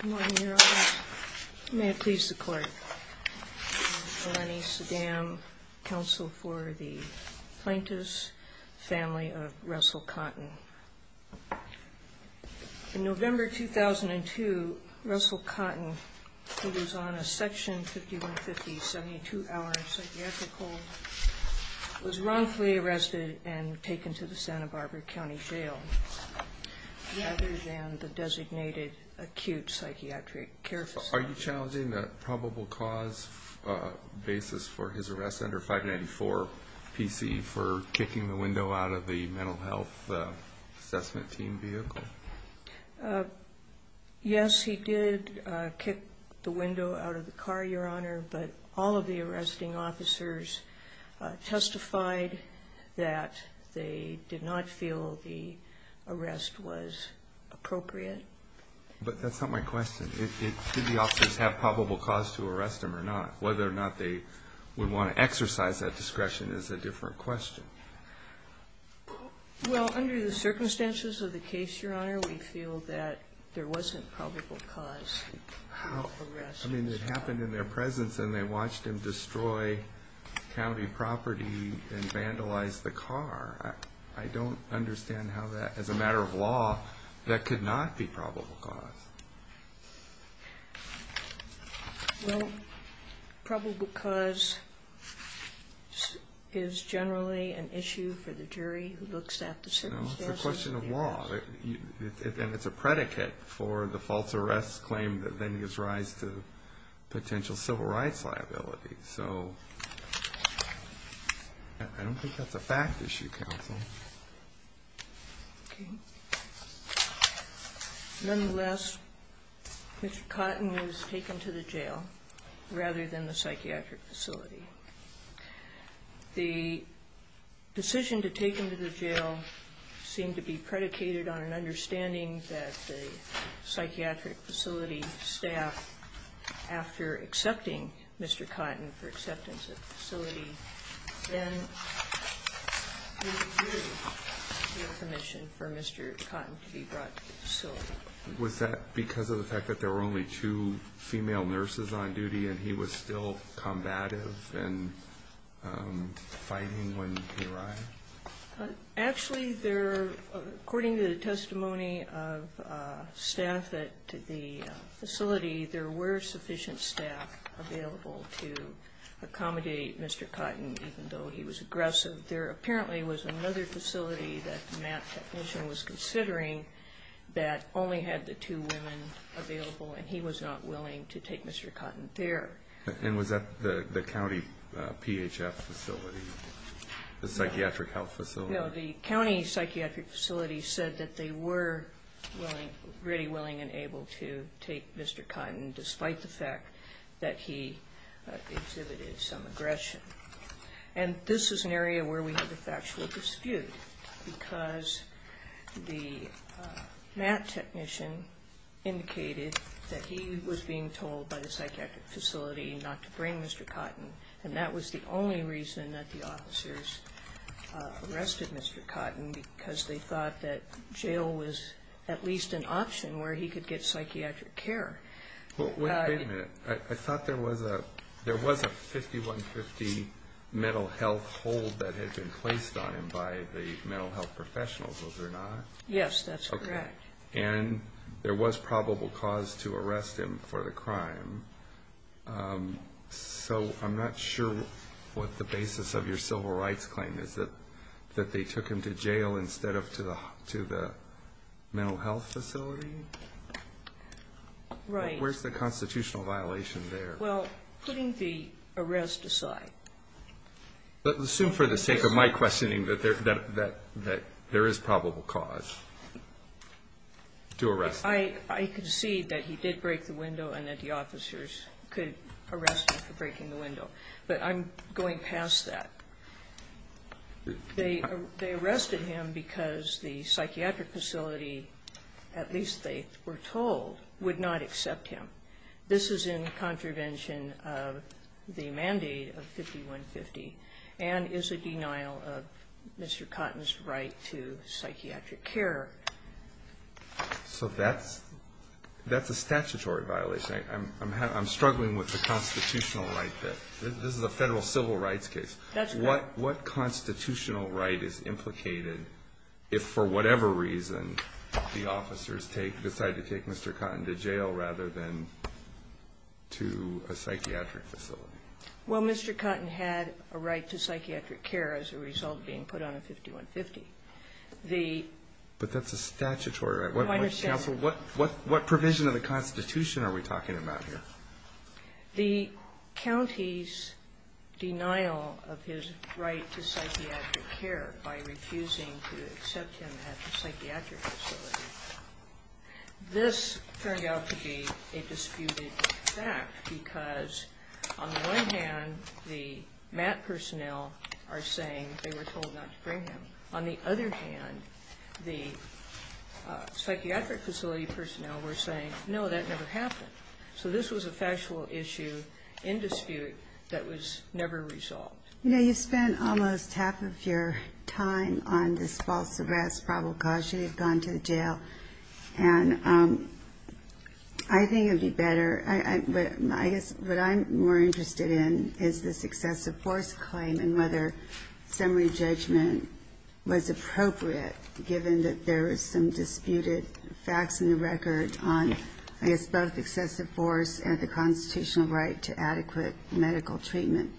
Good morning, Your Honor. May it please the Court. Melanie Sedam, counsel for the Plaintiffs' family of Russell Cotton. In November 2002, Russell Cotton, who was on a Section 5150-72 hour psychiatric hold, was wrongfully arrested and taken to the Santa Barbara County Jail. Other than the designated acute psychiatric care facility. Are you challenging the probable cause basis for his arrest under 594 PC for kicking the window out of the mental health assessment team vehicle? Yes, he did kick the window out of the car, Your Honor, but all of the arresting officers testified that they did not feel the arrest was appropriate. But that's not my question. Did the officers have probable cause to arrest him or not? Whether or not they would want to exercise that discretion is a different question. Well, under the circumstances of the case, Your Honor, we feel that there wasn't probable cause. I mean, it happened in their presence and they watched him destroy county property and vandalize the car. I don't understand how that, as a matter of law, that could not be probable cause. Well, probable cause is generally an issue for the jury who looks at the circumstances. No, it's a question of law. And it's a predicate for the false arrest claim that then gives rise to potential civil rights liability. So, I don't think that's a fact issue, counsel. Nonetheless, Mr. Cotton was taken to the jail rather than the psychiatric facility. The decision to take him to the jail seemed to be predicated on an understanding that the psychiatric facility staff, after accepting Mr. Cotton for acceptance at the facility, then withdrew their permission for Mr. Cotton to be brought to the facility. Was that because of the fact that there were only two female nurses on duty and he was still combative and fighting when he arrived? Actually, according to the testimony of staff at the facility, there were sufficient staff available to accommodate Mr. Cotton, even though he was aggressive. There apparently was another facility that the MAP technician was considering that only had the two women available and he was not willing to take Mr. Cotton there. And was that the county PHF facility, the psychiatric health facility? No, the county psychiatric facility said that they were really willing and able to take Mr. Cotton, despite the fact that he exhibited some aggression. And this is an area where we have a factual dispute, because the MAP technician indicated that he was being told by the psychiatric facility not to bring Mr. Cotton. And that was the only reason that the officers arrested Mr. Cotton, because they thought that jail was at least an option where he could get psychiatric care. Wait a minute, I thought there was a 5150 mental health hold that had been placed on him by the mental health professionals, was there not? Yes, that's correct. And there was probable cause to arrest him for the crime. So I'm not sure what the basis of your civil rights claim is, that they took him to jail instead of to the mental health facility? Right. Where's the constitutional violation there? Well, putting the arrest aside. But assume for the sake of my questioning that there is probable cause to arrest him. I concede that he did break the window and that the officers could arrest him for breaking the window. But I'm going past that. They arrested him because the psychiatric facility, at least they were told, would not accept him. This is in contravention of the mandate of 5150 and is a denial of Mr. Cotton's right to psychiatric care. So that's a statutory violation. I'm struggling with the constitutional right there. This is a Federal civil rights case. That's correct. What constitutional right is implicated if, for whatever reason, the officers decide to take Mr. Cotton to jail rather than to a psychiatric facility? Well, Mr. Cotton had a right to psychiatric care as a result of being put on a 5150. But that's a statutory right. What provision of the Constitution are we talking about here? The county's denial of his right to psychiatric care by refusing to accept him at the psychiatric facility, this turned out to be a disputed fact because, on the one hand, the MAT personnel are saying they were told not to bring him. On the other hand, the psychiatric facility personnel were saying, no, that never happened. So this was a factual issue in dispute that was never resolved. You know, you spent almost half of your time on this false arrest provocation. You've gone to jail. And I think it would be better ñ I guess what I'm more interested in is this excessive force claim and whether summary judgment was appropriate, given that there is some disputed facts in the record on, I guess, both excessive force and the constitutional right to adequate medical treatment.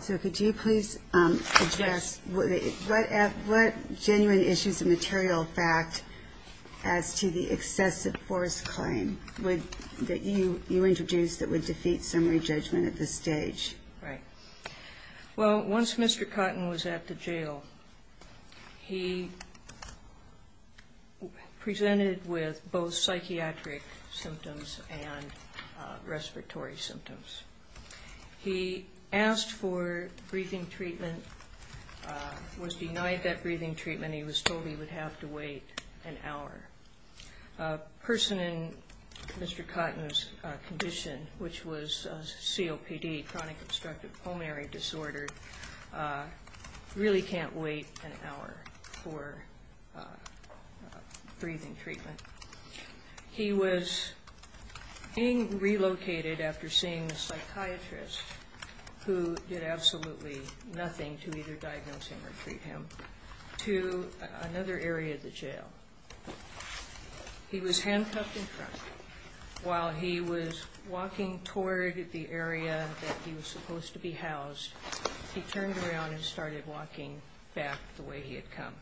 So could you please address what genuine issues of material fact as to the excessive force claim that you introduced that would defeat summary judgment at this stage? Right. Well, once Mr. Cotton was at the jail, he presented with both psychiatric symptoms and respiratory symptoms. He asked for breathing treatment, was denied that breathing treatment. He was told he would have to wait an hour. A person in Mr. Cotton's condition, which was COPD, chronic obstructive pulmonary disorder, really can't wait an hour for breathing treatment. He was being relocated after seeing the psychiatrist, who did absolutely nothing to either diagnose him or treat him, to another area of the jail. He was handcuffed in front. While he was walking toward the area that he was supposed to be housed, he turned around and started walking back the way he had come.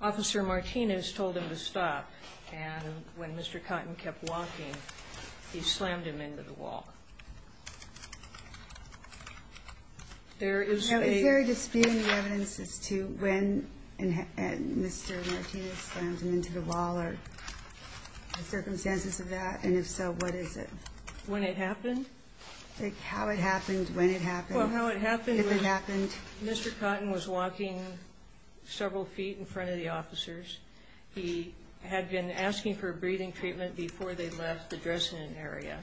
Officer Martinez told him to stop, and when Mr. Cotton kept walking, he slammed him into the wall. There is a... Now, is there a dispute in the evidence as to when Mr. Martinez slammed him into the wall or the circumstances of that? And if so, what is it? When it happened? Like, how it happened, when it happened, if it happened. Well, how it happened was Mr. Cotton was walking several feet in front of the officers. He had been asking for breathing treatment before they left the dressing area.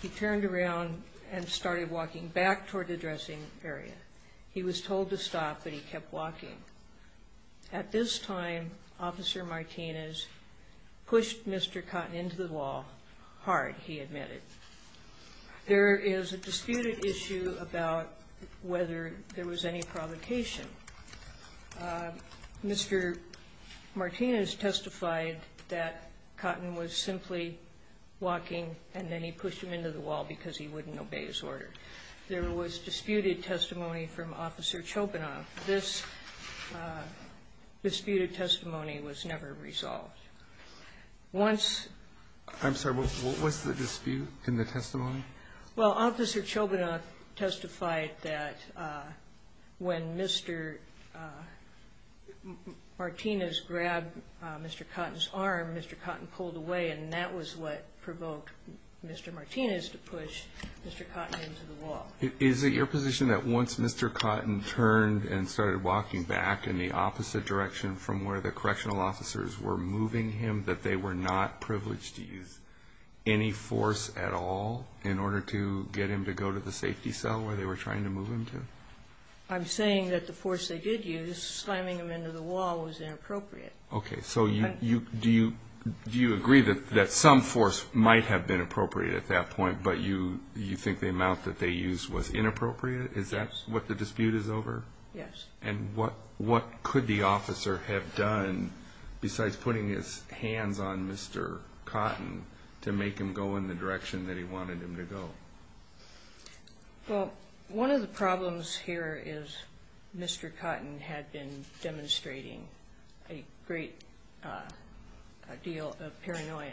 He turned around and started walking back toward the dressing area. He was told to stop, but he kept walking. At this time, Officer Martinez pushed Mr. Cotton into the wall hard, he admitted. There is a disputed issue about whether there was any provocation. Mr. Martinez testified that Cotton was simply walking and then he pushed him into the wall because he wouldn't obey his order. There was disputed testimony from Officer Chobanoff. This disputed testimony was never resolved. Once... What was the dispute in the testimony? Well, Officer Chobanoff testified that when Mr. Martinez grabbed Mr. Cotton's arm, Mr. Cotton pulled away and that was what provoked Mr. Martinez to push Mr. Cotton into the wall. Is it your position that once Mr. Cotton turned and started walking back in the opposite direction from where the correctional officers were moving him, that they were not privileged to use any force at all in order to get him to go to the safety cell where they were trying to move him to? I'm saying that the force they did use, slamming him into the wall, was inappropriate. Okay, so do you agree that some force might have been appropriate at that point, but you think the amount that they used was inappropriate? Yes. Is that what the dispute is over? Yes. And what could the officer have done besides putting his hands on Mr. Cotton to make him go in the direction that he wanted him to go? Well, one of the problems here is Mr. Cotton had been demonstrating a great deal of paranoia.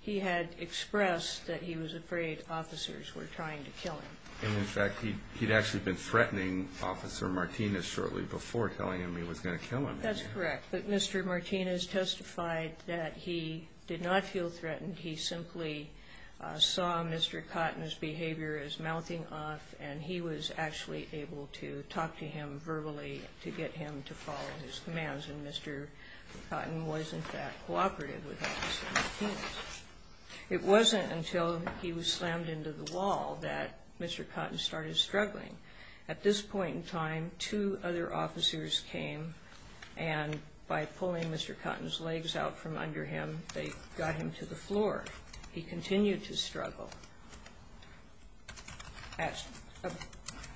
He had expressed that he was afraid officers were trying to kill him. And, in fact, he'd actually been threatening Officer Martinez shortly before telling him he was going to kill him. That's correct. But Mr. Martinez testified that he did not feel threatened. He simply saw Mr. Cotton's behavior as mouthing off, and he was actually able to talk to him verbally to get him to follow his commands. And Mr. Cotton was, in fact, cooperative with Officer Martinez. It wasn't until he was slammed into the wall that Mr. Cotton started struggling. At this point in time, two other officers came, and by pulling Mr. Cotton's legs out from under him, they got him to the floor. He continued to struggle. At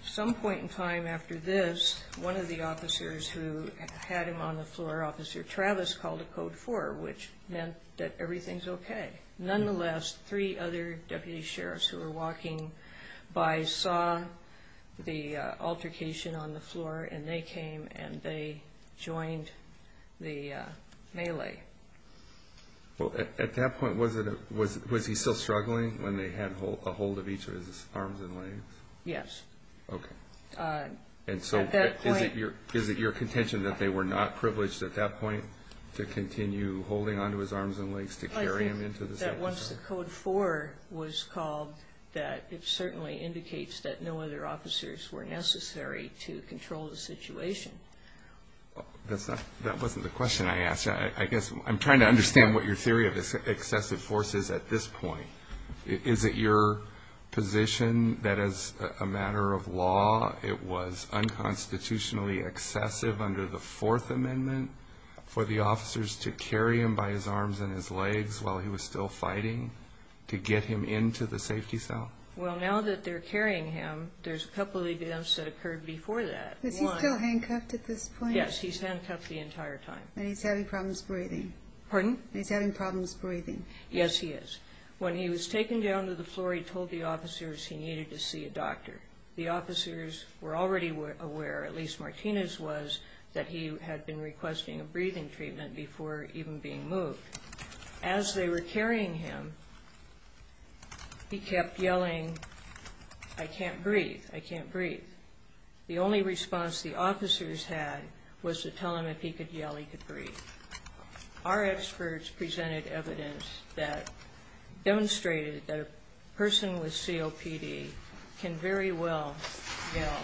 some point in time after this, one of the officers who had him on the floor, Officer Travis, called a Code 4, which meant that everything's okay. Nonetheless, three other deputy sheriffs who were walking by saw the altercation on the floor, and they came and they joined the melee. Well, at that point, was he still struggling when they had a hold of each of his arms and legs? Yes. Okay. And so is it your contention that they were not privileged at that point to continue holding onto his arms and legs to carry him into the safe? I think that once the Code 4 was called, that it certainly indicates that no other officers were necessary to control the situation. That wasn't the question I asked. I guess I'm trying to understand what your theory of excessive force is at this point. Is it your position that as a matter of law, it was unconstitutionally excessive under the Fourth Amendment for the officers to carry him by his arms and his legs while he was still fighting to get him into the safety cell? Well, now that they're carrying him, there's a couple of events that occurred before that. Is he still handcuffed at this point? Yes, he's handcuffed the entire time. And he's having problems breathing? Pardon? He's having problems breathing? Yes, he is. When he was taken down to the floor, he told the officers he needed to see a doctor. The officers were already aware, at least Martinez was, that he had been requesting a breathing treatment before even being moved. As they were carrying him, he kept yelling, I can't breathe, I can't breathe. The only response the officers had was to tell him if he could yell, he could breathe. Our experts presented evidence that demonstrated that a person with COPD can very well yell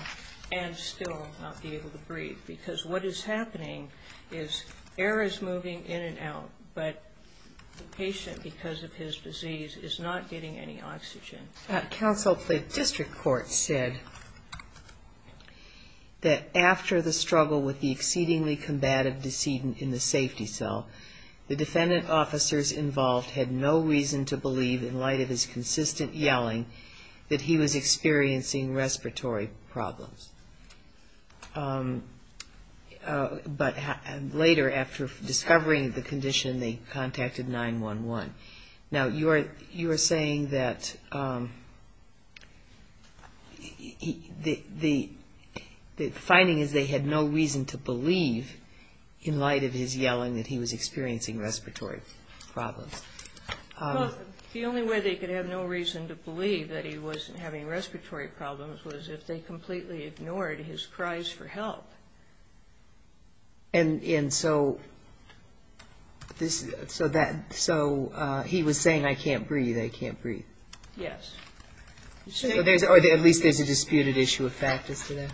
and still not be able to breathe because what is happening is air is moving in and out, but the patient, because of his disease, is not getting any oxygen. A council district court said that after the struggle with the exceedingly combative decedent in the safety cell, the defendant officers involved had no reason to believe, in light of his consistent yelling, that he was experiencing respiratory problems. But later, after discovering the condition, they contacted 911. Now, you are saying that the finding is they had no reason to believe, in light of his yelling, that he was experiencing respiratory problems. Well, the only way they could have no reason to believe that he wasn't having respiratory problems was if they completely ignored his cries for help. And so he was saying, I can't breathe, I can't breathe. Yes. Or at least there's a disputed issue of fact as to that.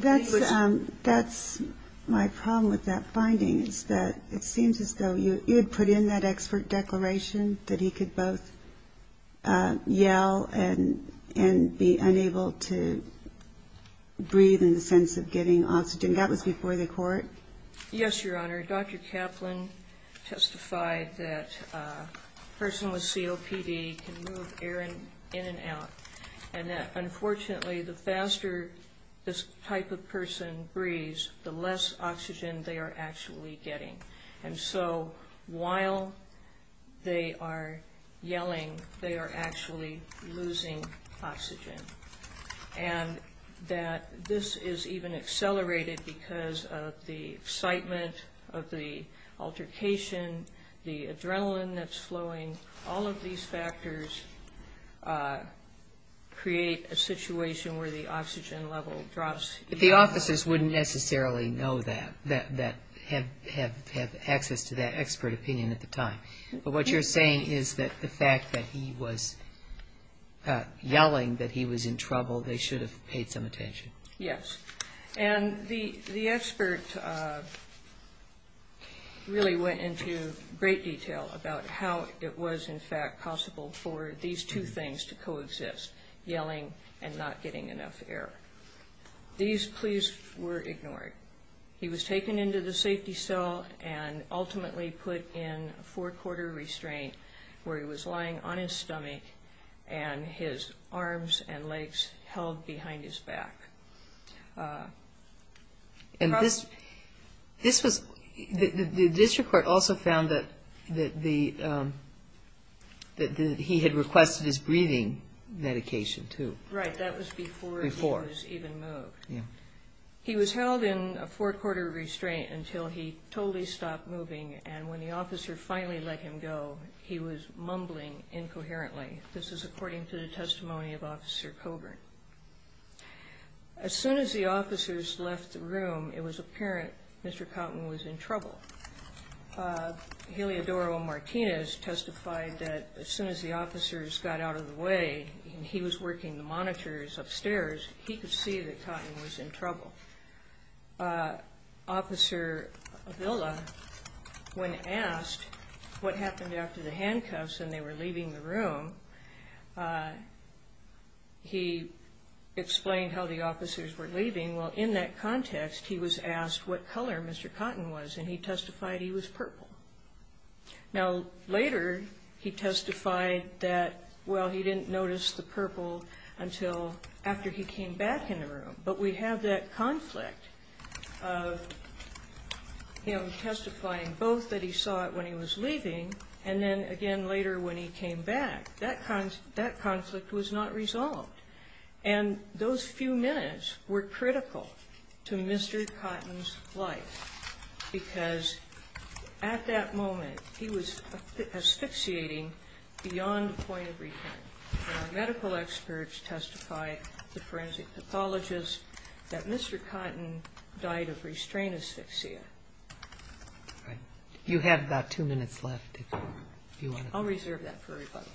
That's correct. That's my problem with that finding, is that it seems as though you had put in that expert declaration that he could both yell and be unable to breathe in the sense of getting oxygen. That was before the court? Yes, Your Honor. Dr. Kaplan testified that a person with COPD can move air in and out, and that, unfortunately, the faster this type of person breathes, the less oxygen they are actually getting. And so while they are yelling, they are actually losing oxygen. And that this is even accelerated because of the excitement of the altercation, the adrenaline that's flowing, all of these factors create a situation where the oxygen level drops. The officers wouldn't necessarily know that, have access to that expert opinion at the time. But what you're saying is that the fact that he was yelling, that he was in trouble, they should have paid some attention. Yes. And the expert really went into great detail about how it was, in fact, possible for these two things to coexist, yelling and not getting enough air. These pleas were ignored. He was taken into the safety cell and ultimately put in a four-quarter restraint where he was lying on his stomach and his arms and legs held behind his back. The district court also found that he had requested his breathing medication, too. Right, that was before he was even moved. He was held in a four-quarter restraint until he totally stopped moving. And when the officer finally let him go, he was mumbling incoherently. This is according to the testimony of Officer Coburn. As soon as the officers left the room, it was apparent Mr. Cotton was in trouble. Heliodoro Martinez testified that as soon as the officers got out of the way, and he was working the monitors upstairs, he could see that Cotton was in trouble. Officer Avila, when asked what happened after the handcuffs and they were leaving the room, he explained how the officers were leaving. Well, in that context, he was asked what color Mr. Cotton was, and he testified he was purple. Now, later, he testified that, well, he didn't notice the purple until after he came back in the room. But we have that conflict of him testifying both that he saw it when he was leaving, and then again later when he came back, that conflict was not resolved. And those few minutes were critical to Mr. Cotton's life, because at that moment, he was asphyxiating beyond the point of return. And our medical experts testified, the forensic pathologists, that Mr. Cotton died of restraint asphyxia. You have about two minutes left, if you want to... I'll reserve that for everybody.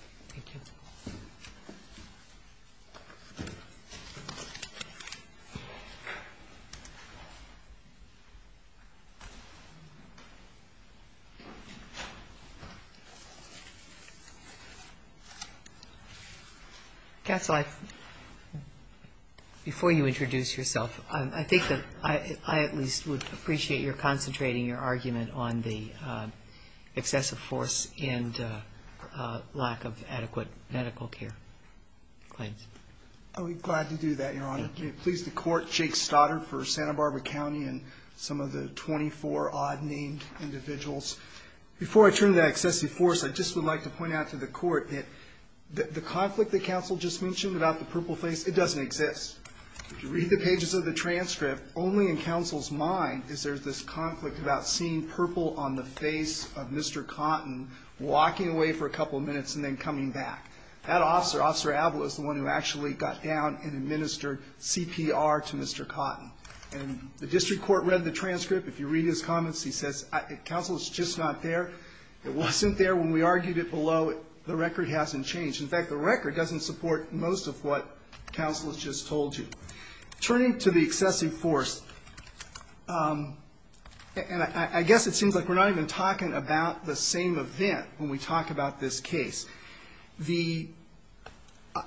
Counsel, before you introduce yourself, I think that I at least would appreciate your concentrating your argument on the excessive force and lack of adequate medical care claims. I would be glad to do that, Your Honor. Thank you. Thank you. Before I turn to that excessive force, I just would like to point out to the Court that the conflict that Counsel just mentioned about the purple face, it doesn't exist. If you read the pages of the transcript, only in Counsel's mind is there this conflict about seeing purple on the face of Mr. Cotton walking away for a couple minutes and then coming back. If you read his comments, he says, Counsel, it's just not there. It wasn't there when we argued it below. The record hasn't changed. In fact, the record doesn't support most of what Counsel has just told you. Turning to the excessive force, and I guess it seems like we're not even talking about the same event when we talk about this case.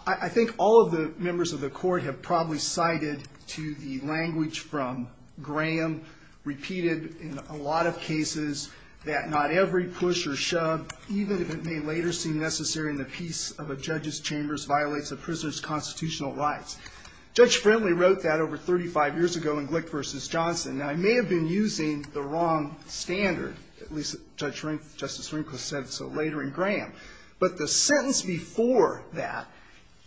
I think all of the members of the Court have probably cited to the language from Graham repeated in a lot of cases that not every push or shove, even if it may later seem necessary in the peace of a judge's chambers, violates a prisoner's constitutional rights. Judge Friendly wrote that over 35 years ago in Glick v. Johnson. Now, I may have been using the wrong standard, at least Justice Rinko said so later in Graham, but the sentence before that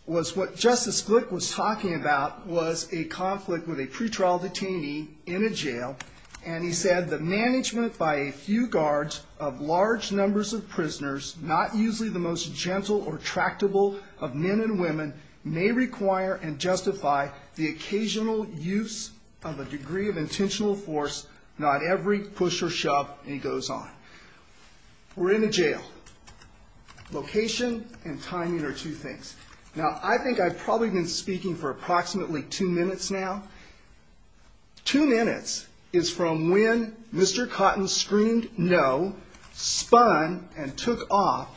was what Justice Glick was talking about was a conflict with a pretrial detainee in a jail, and he said, the management by a few guards of large numbers of prisoners, not usually the most gentle or tractable of men and women, may require and justify the occasional use of a degree of intentional force, not every push or shove, and he goes on. We're in a jail. Location and timing are two things. Now, I think I've probably been speaking for approximately two minutes now. Two minutes is from when Mr. Cotton screamed no, spun, and took off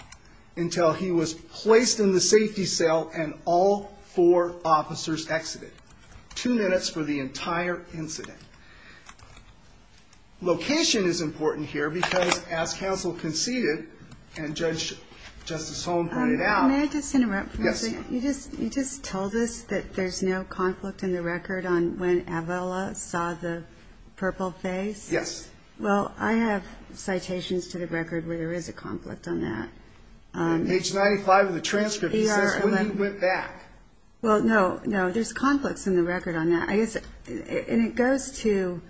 until he was placed in the safety cell and all four officers exited. Two minutes for the entire incident. Location is important here, because as counsel conceded, and Judge Justice Holm pointed out... May I just interrupt for a second? Yes, ma'am. You just told us that there's no conflict in the record on when Avella saw the purple face? Yes. Well, I have citations to the record where there is a conflict on that. Page 95 of the transcript says when he went back. Well, no, no, there's conflicts in the record on that. And it goes to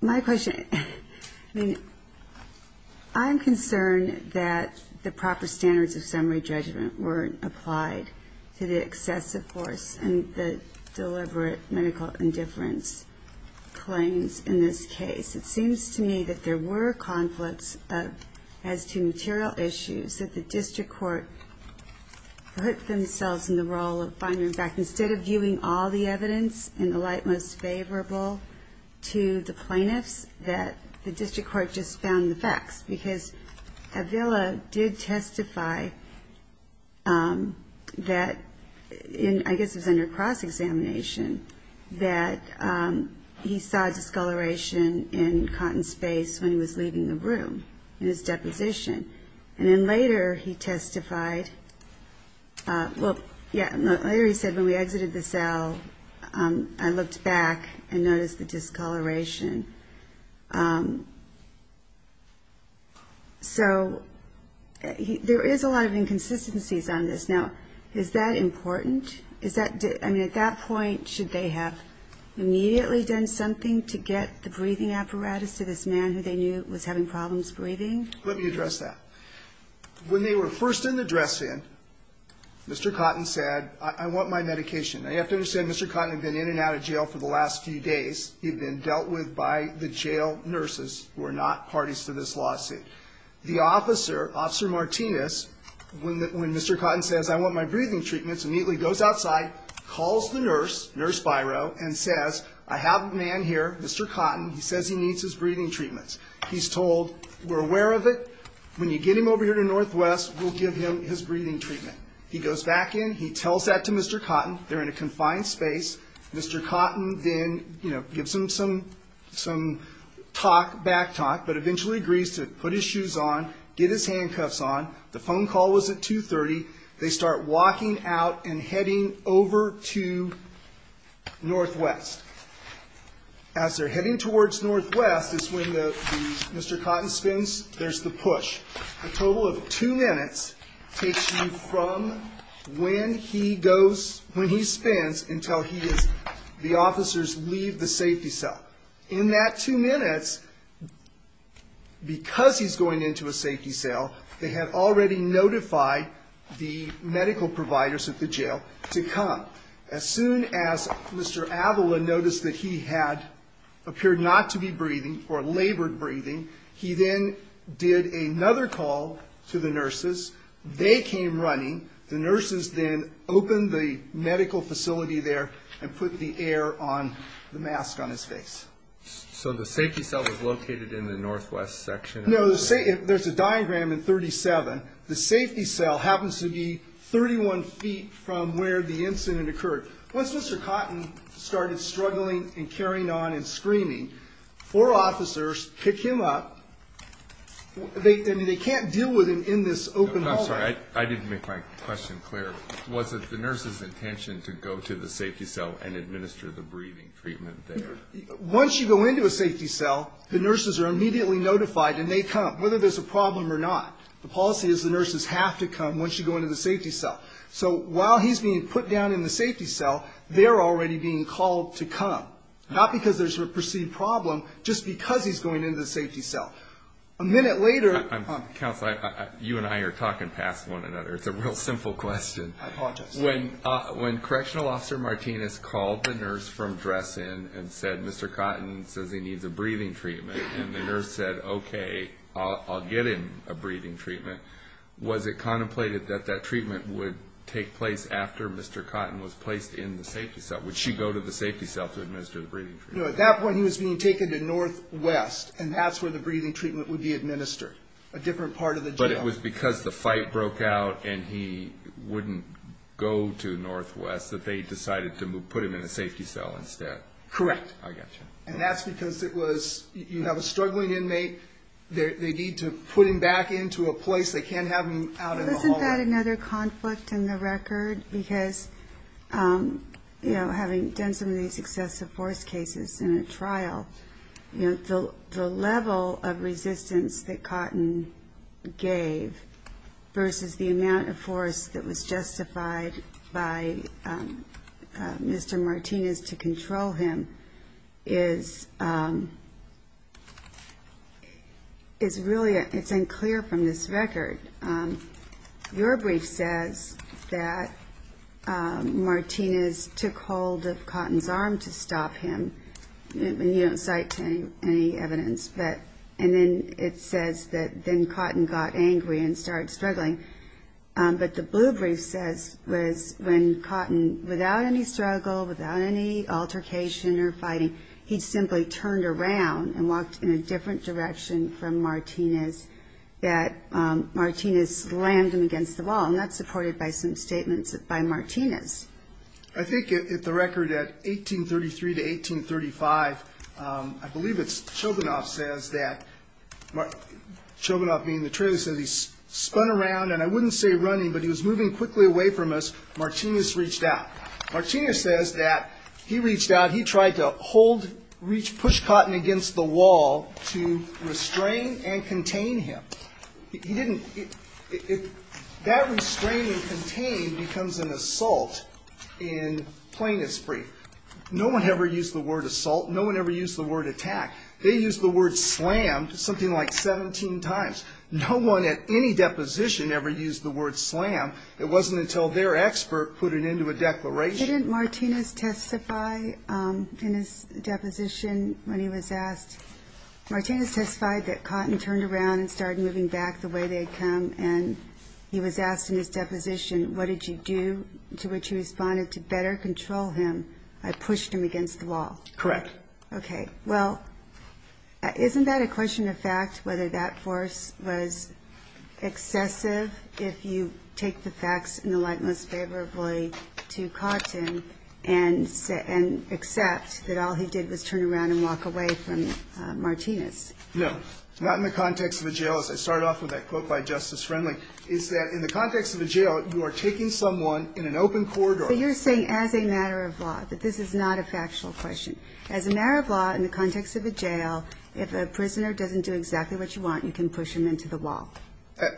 my question. I mean, I'm concerned that the proper standards of summary judgment weren't applied to the excessive force and the deliberate medical indifference claims in this case. It seems to me that there were conflicts as to material issues that the district court put themselves in the role of finding them back. Instead of viewing all the evidence in the light most favorable to the plaintiffs, it seems to me that the district court just found the facts, because Avella did testify that, I guess it was under cross-examination, that he saw discoloration in Cotton's face when he was leaving the room in his deposition. And then later he testified, well, later he said, when we exited the cell, I looked back and noticed the discoloration. So there is a lot of inconsistencies on this. Now, is that important? I mean, at that point, should they have immediately done something to get the breathing apparatus to this man who they knew was having problems breathing? Let me address that. When they were first in the dress-in, Mr. Cotton said, I want my medication. Now, you have to understand, Mr. Cotton had been in and out of jail for the last few days. He had been dealt with by the jail nurses who are not parties to this lawsuit. The officer, Officer Martinez, when Mr. Cotton says, I want my breathing treatments, immediately goes outside, calls the nurse, Nurse Biro, and says, I have a man here, Mr. Cotton. He says he needs his breathing treatments. He's told, we're aware of it. When you get him over here to Northwest, we'll give him his breathing treatment. He goes back in. He tells that to Mr. Cotton. They're in a confined space. Mr. Cotton then gives him some talk, back talk, but eventually agrees to put his shoes on, get his handcuffs on. The phone call was at 2.30. They start walking out and heading over to Northwest. As they're heading towards Northwest is when Mr. Cotton spins. There's the push. A total of two minutes takes you from when he goes, when he spins until he is, the officers leave the safety cell. In that two minutes, because he's going into a safety cell, they have already notified the medical providers at the jail to come. As soon as Mr. Avila noticed that he had, appeared not to be breathing or labored breathing, he then did another call to the nurses. They came running. The nurses then opened the medical facility there and put the air on the mask on his face. So the safety cell was located in the Northwest section. No, there's a diagram in 37. The safety cell happens to be 31 feet from where the incident occurred. Once Mr. Cotton started struggling and carrying on and screaming, four officers pick him up. They can't deal with him in this open hallway. I'm sorry, I didn't make my question clear. Was it the nurse's intention to go to the safety cell and administer the breathing treatment there? Once you go into a safety cell, the nurses are immediately notified and they come, whether there's a problem or not. The policy is the nurses have to come once you go into the safety cell. So while he's being put down in the safety cell, they're already being called to come, not because there's a perceived problem, just because he's going into the safety cell. A minute later... Counsel, you and I are talking past one another. It's a real simple question. I apologize. When Correctional Officer Martinez called the nurse from dress-in and said Mr. Cotton says he needs a breathing treatment, and the nurse said, okay, I'll get him a breathing treatment, was it contemplated that that treatment would take place after Mr. Cotton was placed in the safety cell? Would she go to the safety cell to administer the breathing treatment? No, at that point he was being taken to Northwest, and that's where the breathing treatment would be administered, a different part of the jail. But it was because the fight broke out and he wouldn't go to Northwest that they decided to put him in a safety cell instead? Correct. I got you. And that's because you have a struggling inmate, they need to put him back into a place, they can't have him out in the hallway. Isn't that another conflict in the record? Because, you know, having done some of these excessive force cases in a trial, the level of resistance that Cotton gave versus the amount of force that was justified by Mr. Martinez to control him, it's unclear from this record. Martinez took hold of Cotton's arm to stop him, and you don't cite any evidence, and then it says that then Cotton got angry and started struggling. But the blue brief says when Cotton, without any struggle, without any altercation or fighting, he simply turned around and walked in a different direction from Martinez, that Martinez slammed him against the wall, and that's supported by some statements by Martinez. I think at the record at 1833 to 1835, I believe it's Chobunov says that, Chobunov being the traitor, says he spun around, and I wouldn't say running, but he was moving quickly away from us, Martinez reached out. Martinez says that he reached out, he tried to hold, push Cotton against the wall to restrain and contain him. He didn't, that restraining and contain becomes an assault in plaintiff's brief. No one ever used the word assault, no one ever used the word attack. They used the word slammed something like 17 times. No one at any deposition ever used the word slam. It wasn't until their expert put it into a declaration. Didn't Martinez testify in his deposition when he was asked, Martinez testified that Cotton turned around and started moving back the way they had come, and he was asked in his deposition, what did you do, to which he responded, to better control him, I pushed him against the wall? Correct. Okay, well, isn't that a question of fact, whether that force was excessive? If you take the facts in the light most favorably to Cotton, and accept that all he did was turn around and walk away from Martinez. No, not in the context of a jail, as I started off with that quote by Justice Friendly, is that in the context of a jail, you are taking someone in an open corridor. So you're saying as a matter of law, but this is not a factual question. As a matter of law, in the context of a jail, if a prisoner doesn't do exactly what you want, you can push him into the wall.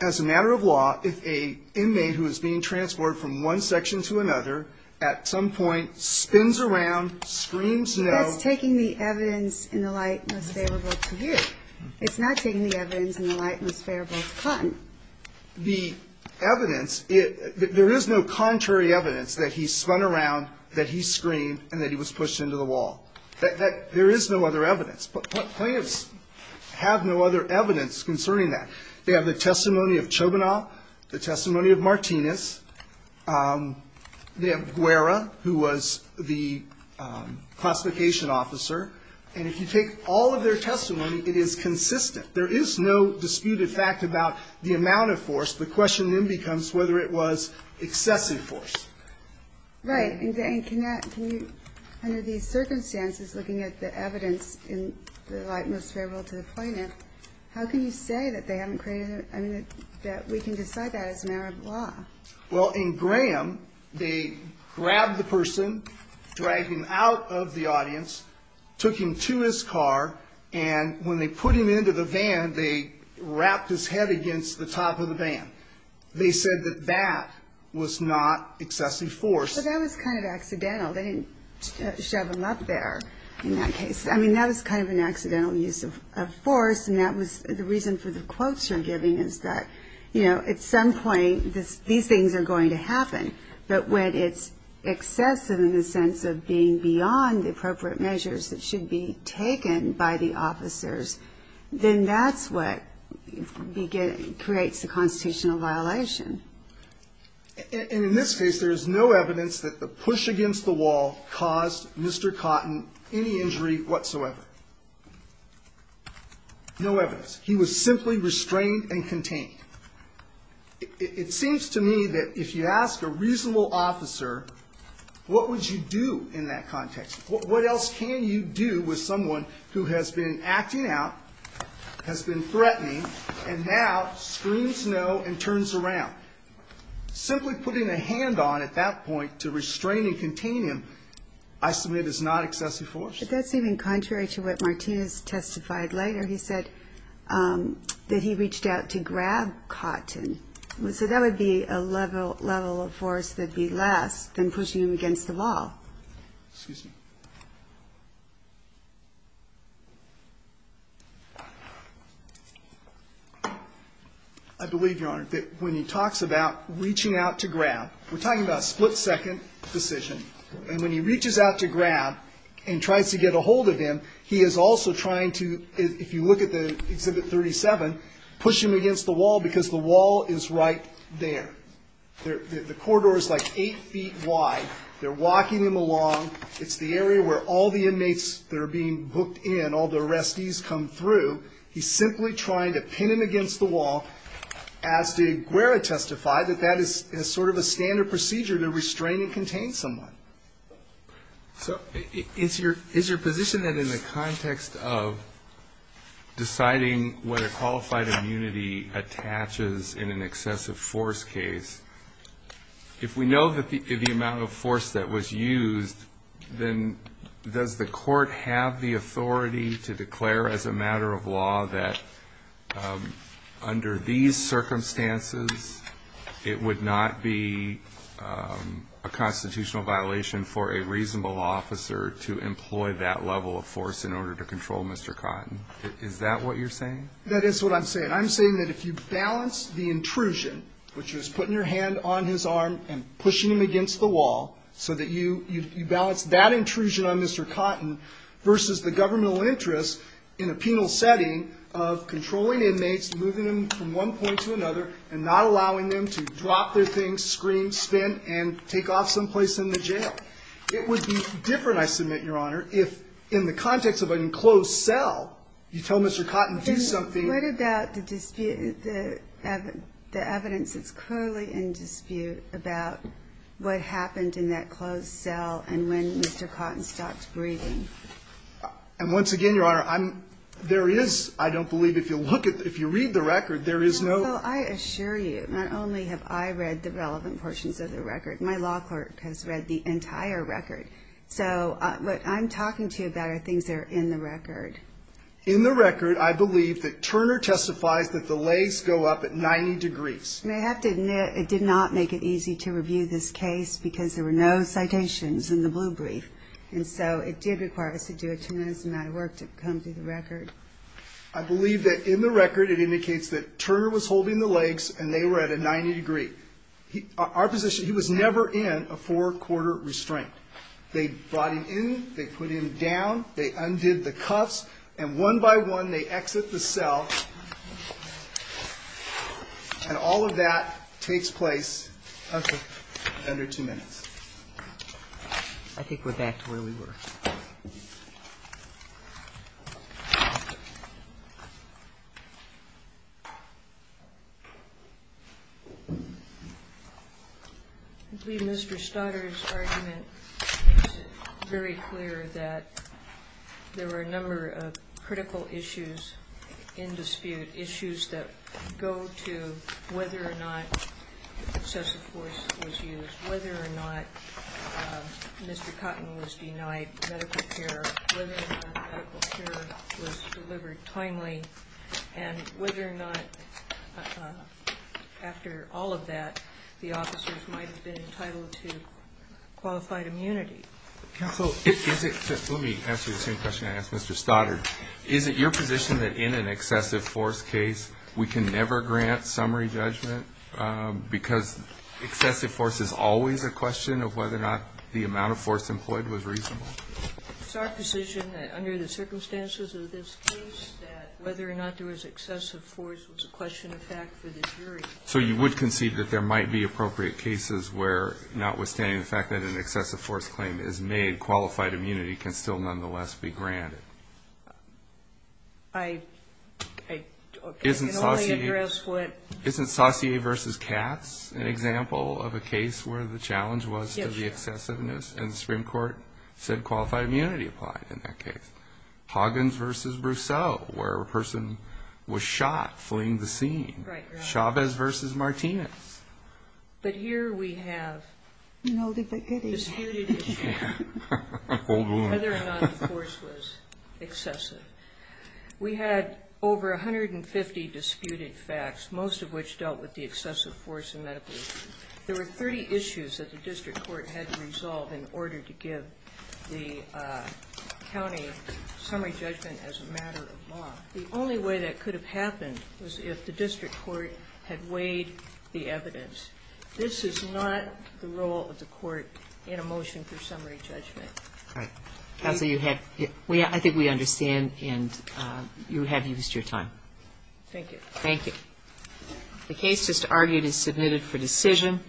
As a matter of law, if a inmate who is being transported from one section to another, at some point spins around, screams no. That's taking the evidence in the light most favorable to you. It's not taking the evidence in the light most favorable to Cotton. The evidence, there is no contrary evidence that he spun around, that he screamed, and that he was pushed into the wall. There is no other evidence. But plaintiffs have no other evidence concerning that. They have the testimony of Chobanow, the testimony of Martinez. They have Guerra, who was the classification officer. And if you take all of their testimony, it is consistent. There is no disputed fact about the amount of force. The question then becomes whether it was excessive force. Right. And can you, under these circumstances, looking at the evidence in the light most favorable to the plaintiff, how can you say that they haven't created, I mean, that we can decide that as a matter of law? Well, in Graham, they grabbed the person, dragged him out of the audience, took him to his car, and when they put him into the van, they wrapped his head against the top of the van. They said that that was not excessive force. But that was kind of accidental. They didn't shove him up there in that case. I mean, that was kind of an accidental use of force, and that was the reason for the quotes you're giving, is that, you know, at some point, these things are going to happen. But when it's excessive in the sense of being beyond the appropriate measures that should be taken by the officers, then that's what creates the constitutional violation. And in this case, there is no evidence that the push against the wall caused Mr. Cotton any injury whatsoever. No evidence. He was simply restrained and contained. It seems to me that if you ask a reasonable officer, what would you do in that context? What else can you do with someone who has been acting out, has been threatening, and now screams no and turns around? Simply putting a hand on at that point to restrain and contain him I submit is not excessive force. But that's even contrary to what Martinez testified later. He said that he reached out to grab Cotton. So that would be a level of force that would be less than pushing him against the wall. Excuse me. I believe, Your Honor, that when he talks about reaching out to grab, we're talking about a split-second decision. And when he reaches out to grab and tries to get a hold of him, he is also trying to, if you look at the Exhibit 37, push him against the wall because the wall is right there. The corridor is like eight feet wide. They're walking him along. It's the area where all the inmates that are being booked in, all the arrestees come through. He's simply trying to pin him against the wall, as did Guerra testified, that that is sort of a standard procedure to restrain and contain someone. So is your position that in the context of deciding whether qualified immunity attaches in an excessive force case, if we know the amount of force that was used, then does the court have the authority to declare as a matter of law that under these circumstances it would not be a constitutional violation for a reasonable officer to employ that level of force in order to control Mr. Cotton? Is that what you're saying? That is what I'm saying. I'm saying that if you balance the intrusion, which was putting your hand on his arm and pushing him against the wall, so that you balance that intrusion on Mr. Cotton versus the governmental interest in a penal setting of controlling inmates, moving them from one point to another, and not allowing them to drop their things, scream, spin, and take off someplace in the jail, it would be different, I submit, Your Honor, if in the context of an enclosed cell, you tell Mr. Cotton to do something. What about the evidence that's currently in dispute about what happened in that closed cell and when Mr. Cotton stopped breathing? And once again, Your Honor, there is, I don't believe, if you look at, if you read the record, there is no ---- Well, I assure you, not only have I read the relevant portions of the record, my law clerk has read the entire record. So what I'm talking to you about are things that are in the record. In the record, I believe that Turner testifies that the legs go up at 90 degrees. And I have to admit, it did not make it easy to review this case because there were no citations in the blue brief. And so it did require us to do a tremendous amount of work to come to the record. I believe that in the record it indicates that Turner was holding the legs and they were at a 90 degree. Our position, he was never in a four-quarter restraint. They brought him in, they put him down, they undid the cuffs, and one by one they exit the cell, and all of that takes place under two minutes. I think we're back to where we were. I believe Mr. Stoddard's argument makes it very clear that there were a number of critical issues in dispute, issues that go to whether or not excessive force was used, whether or not Mr. Cotton was denied medical care, whether or not medical care was delivered timely, and whether or not after all of that the officers might have been entitled to qualified immunity. Let me ask you the same question I asked Mr. Stoddard. Is it your position that in an excessive force case we can never grant summary judgment because excessive force is always a question of whether or not the amount of force employed was reasonable? It's our position that under the circumstances of this case that whether or not there was excessive force was a question of fact for the jury. So you would concede that there might be appropriate cases where, notwithstanding the fact that an excessive force claim is made, qualified immunity can still nonetheless be granted? I can only address what Mr. Stoddard said. Isn't Saussure v. Katz an example of a case where the challenge was to the excessiveness and the Supreme Court said qualified immunity applied in that case? Hoggins v. Brousseau where a person was shot fleeing the scene. Chavez v. Martinez. But here we have disputed issues. Whether or not the force was excessive. We had over 150 disputed facts, most of which dealt with the excessive force and medical issue. There were 30 issues that the district court had to resolve in order to give the county summary judgment as a matter of law. The only way that could have happened was if the district court had weighed the evidence. This is not the role of the court in a motion for summary judgment. I think we understand and you have used your time. Thank you. Thank you. The case just argued is submitted for decision.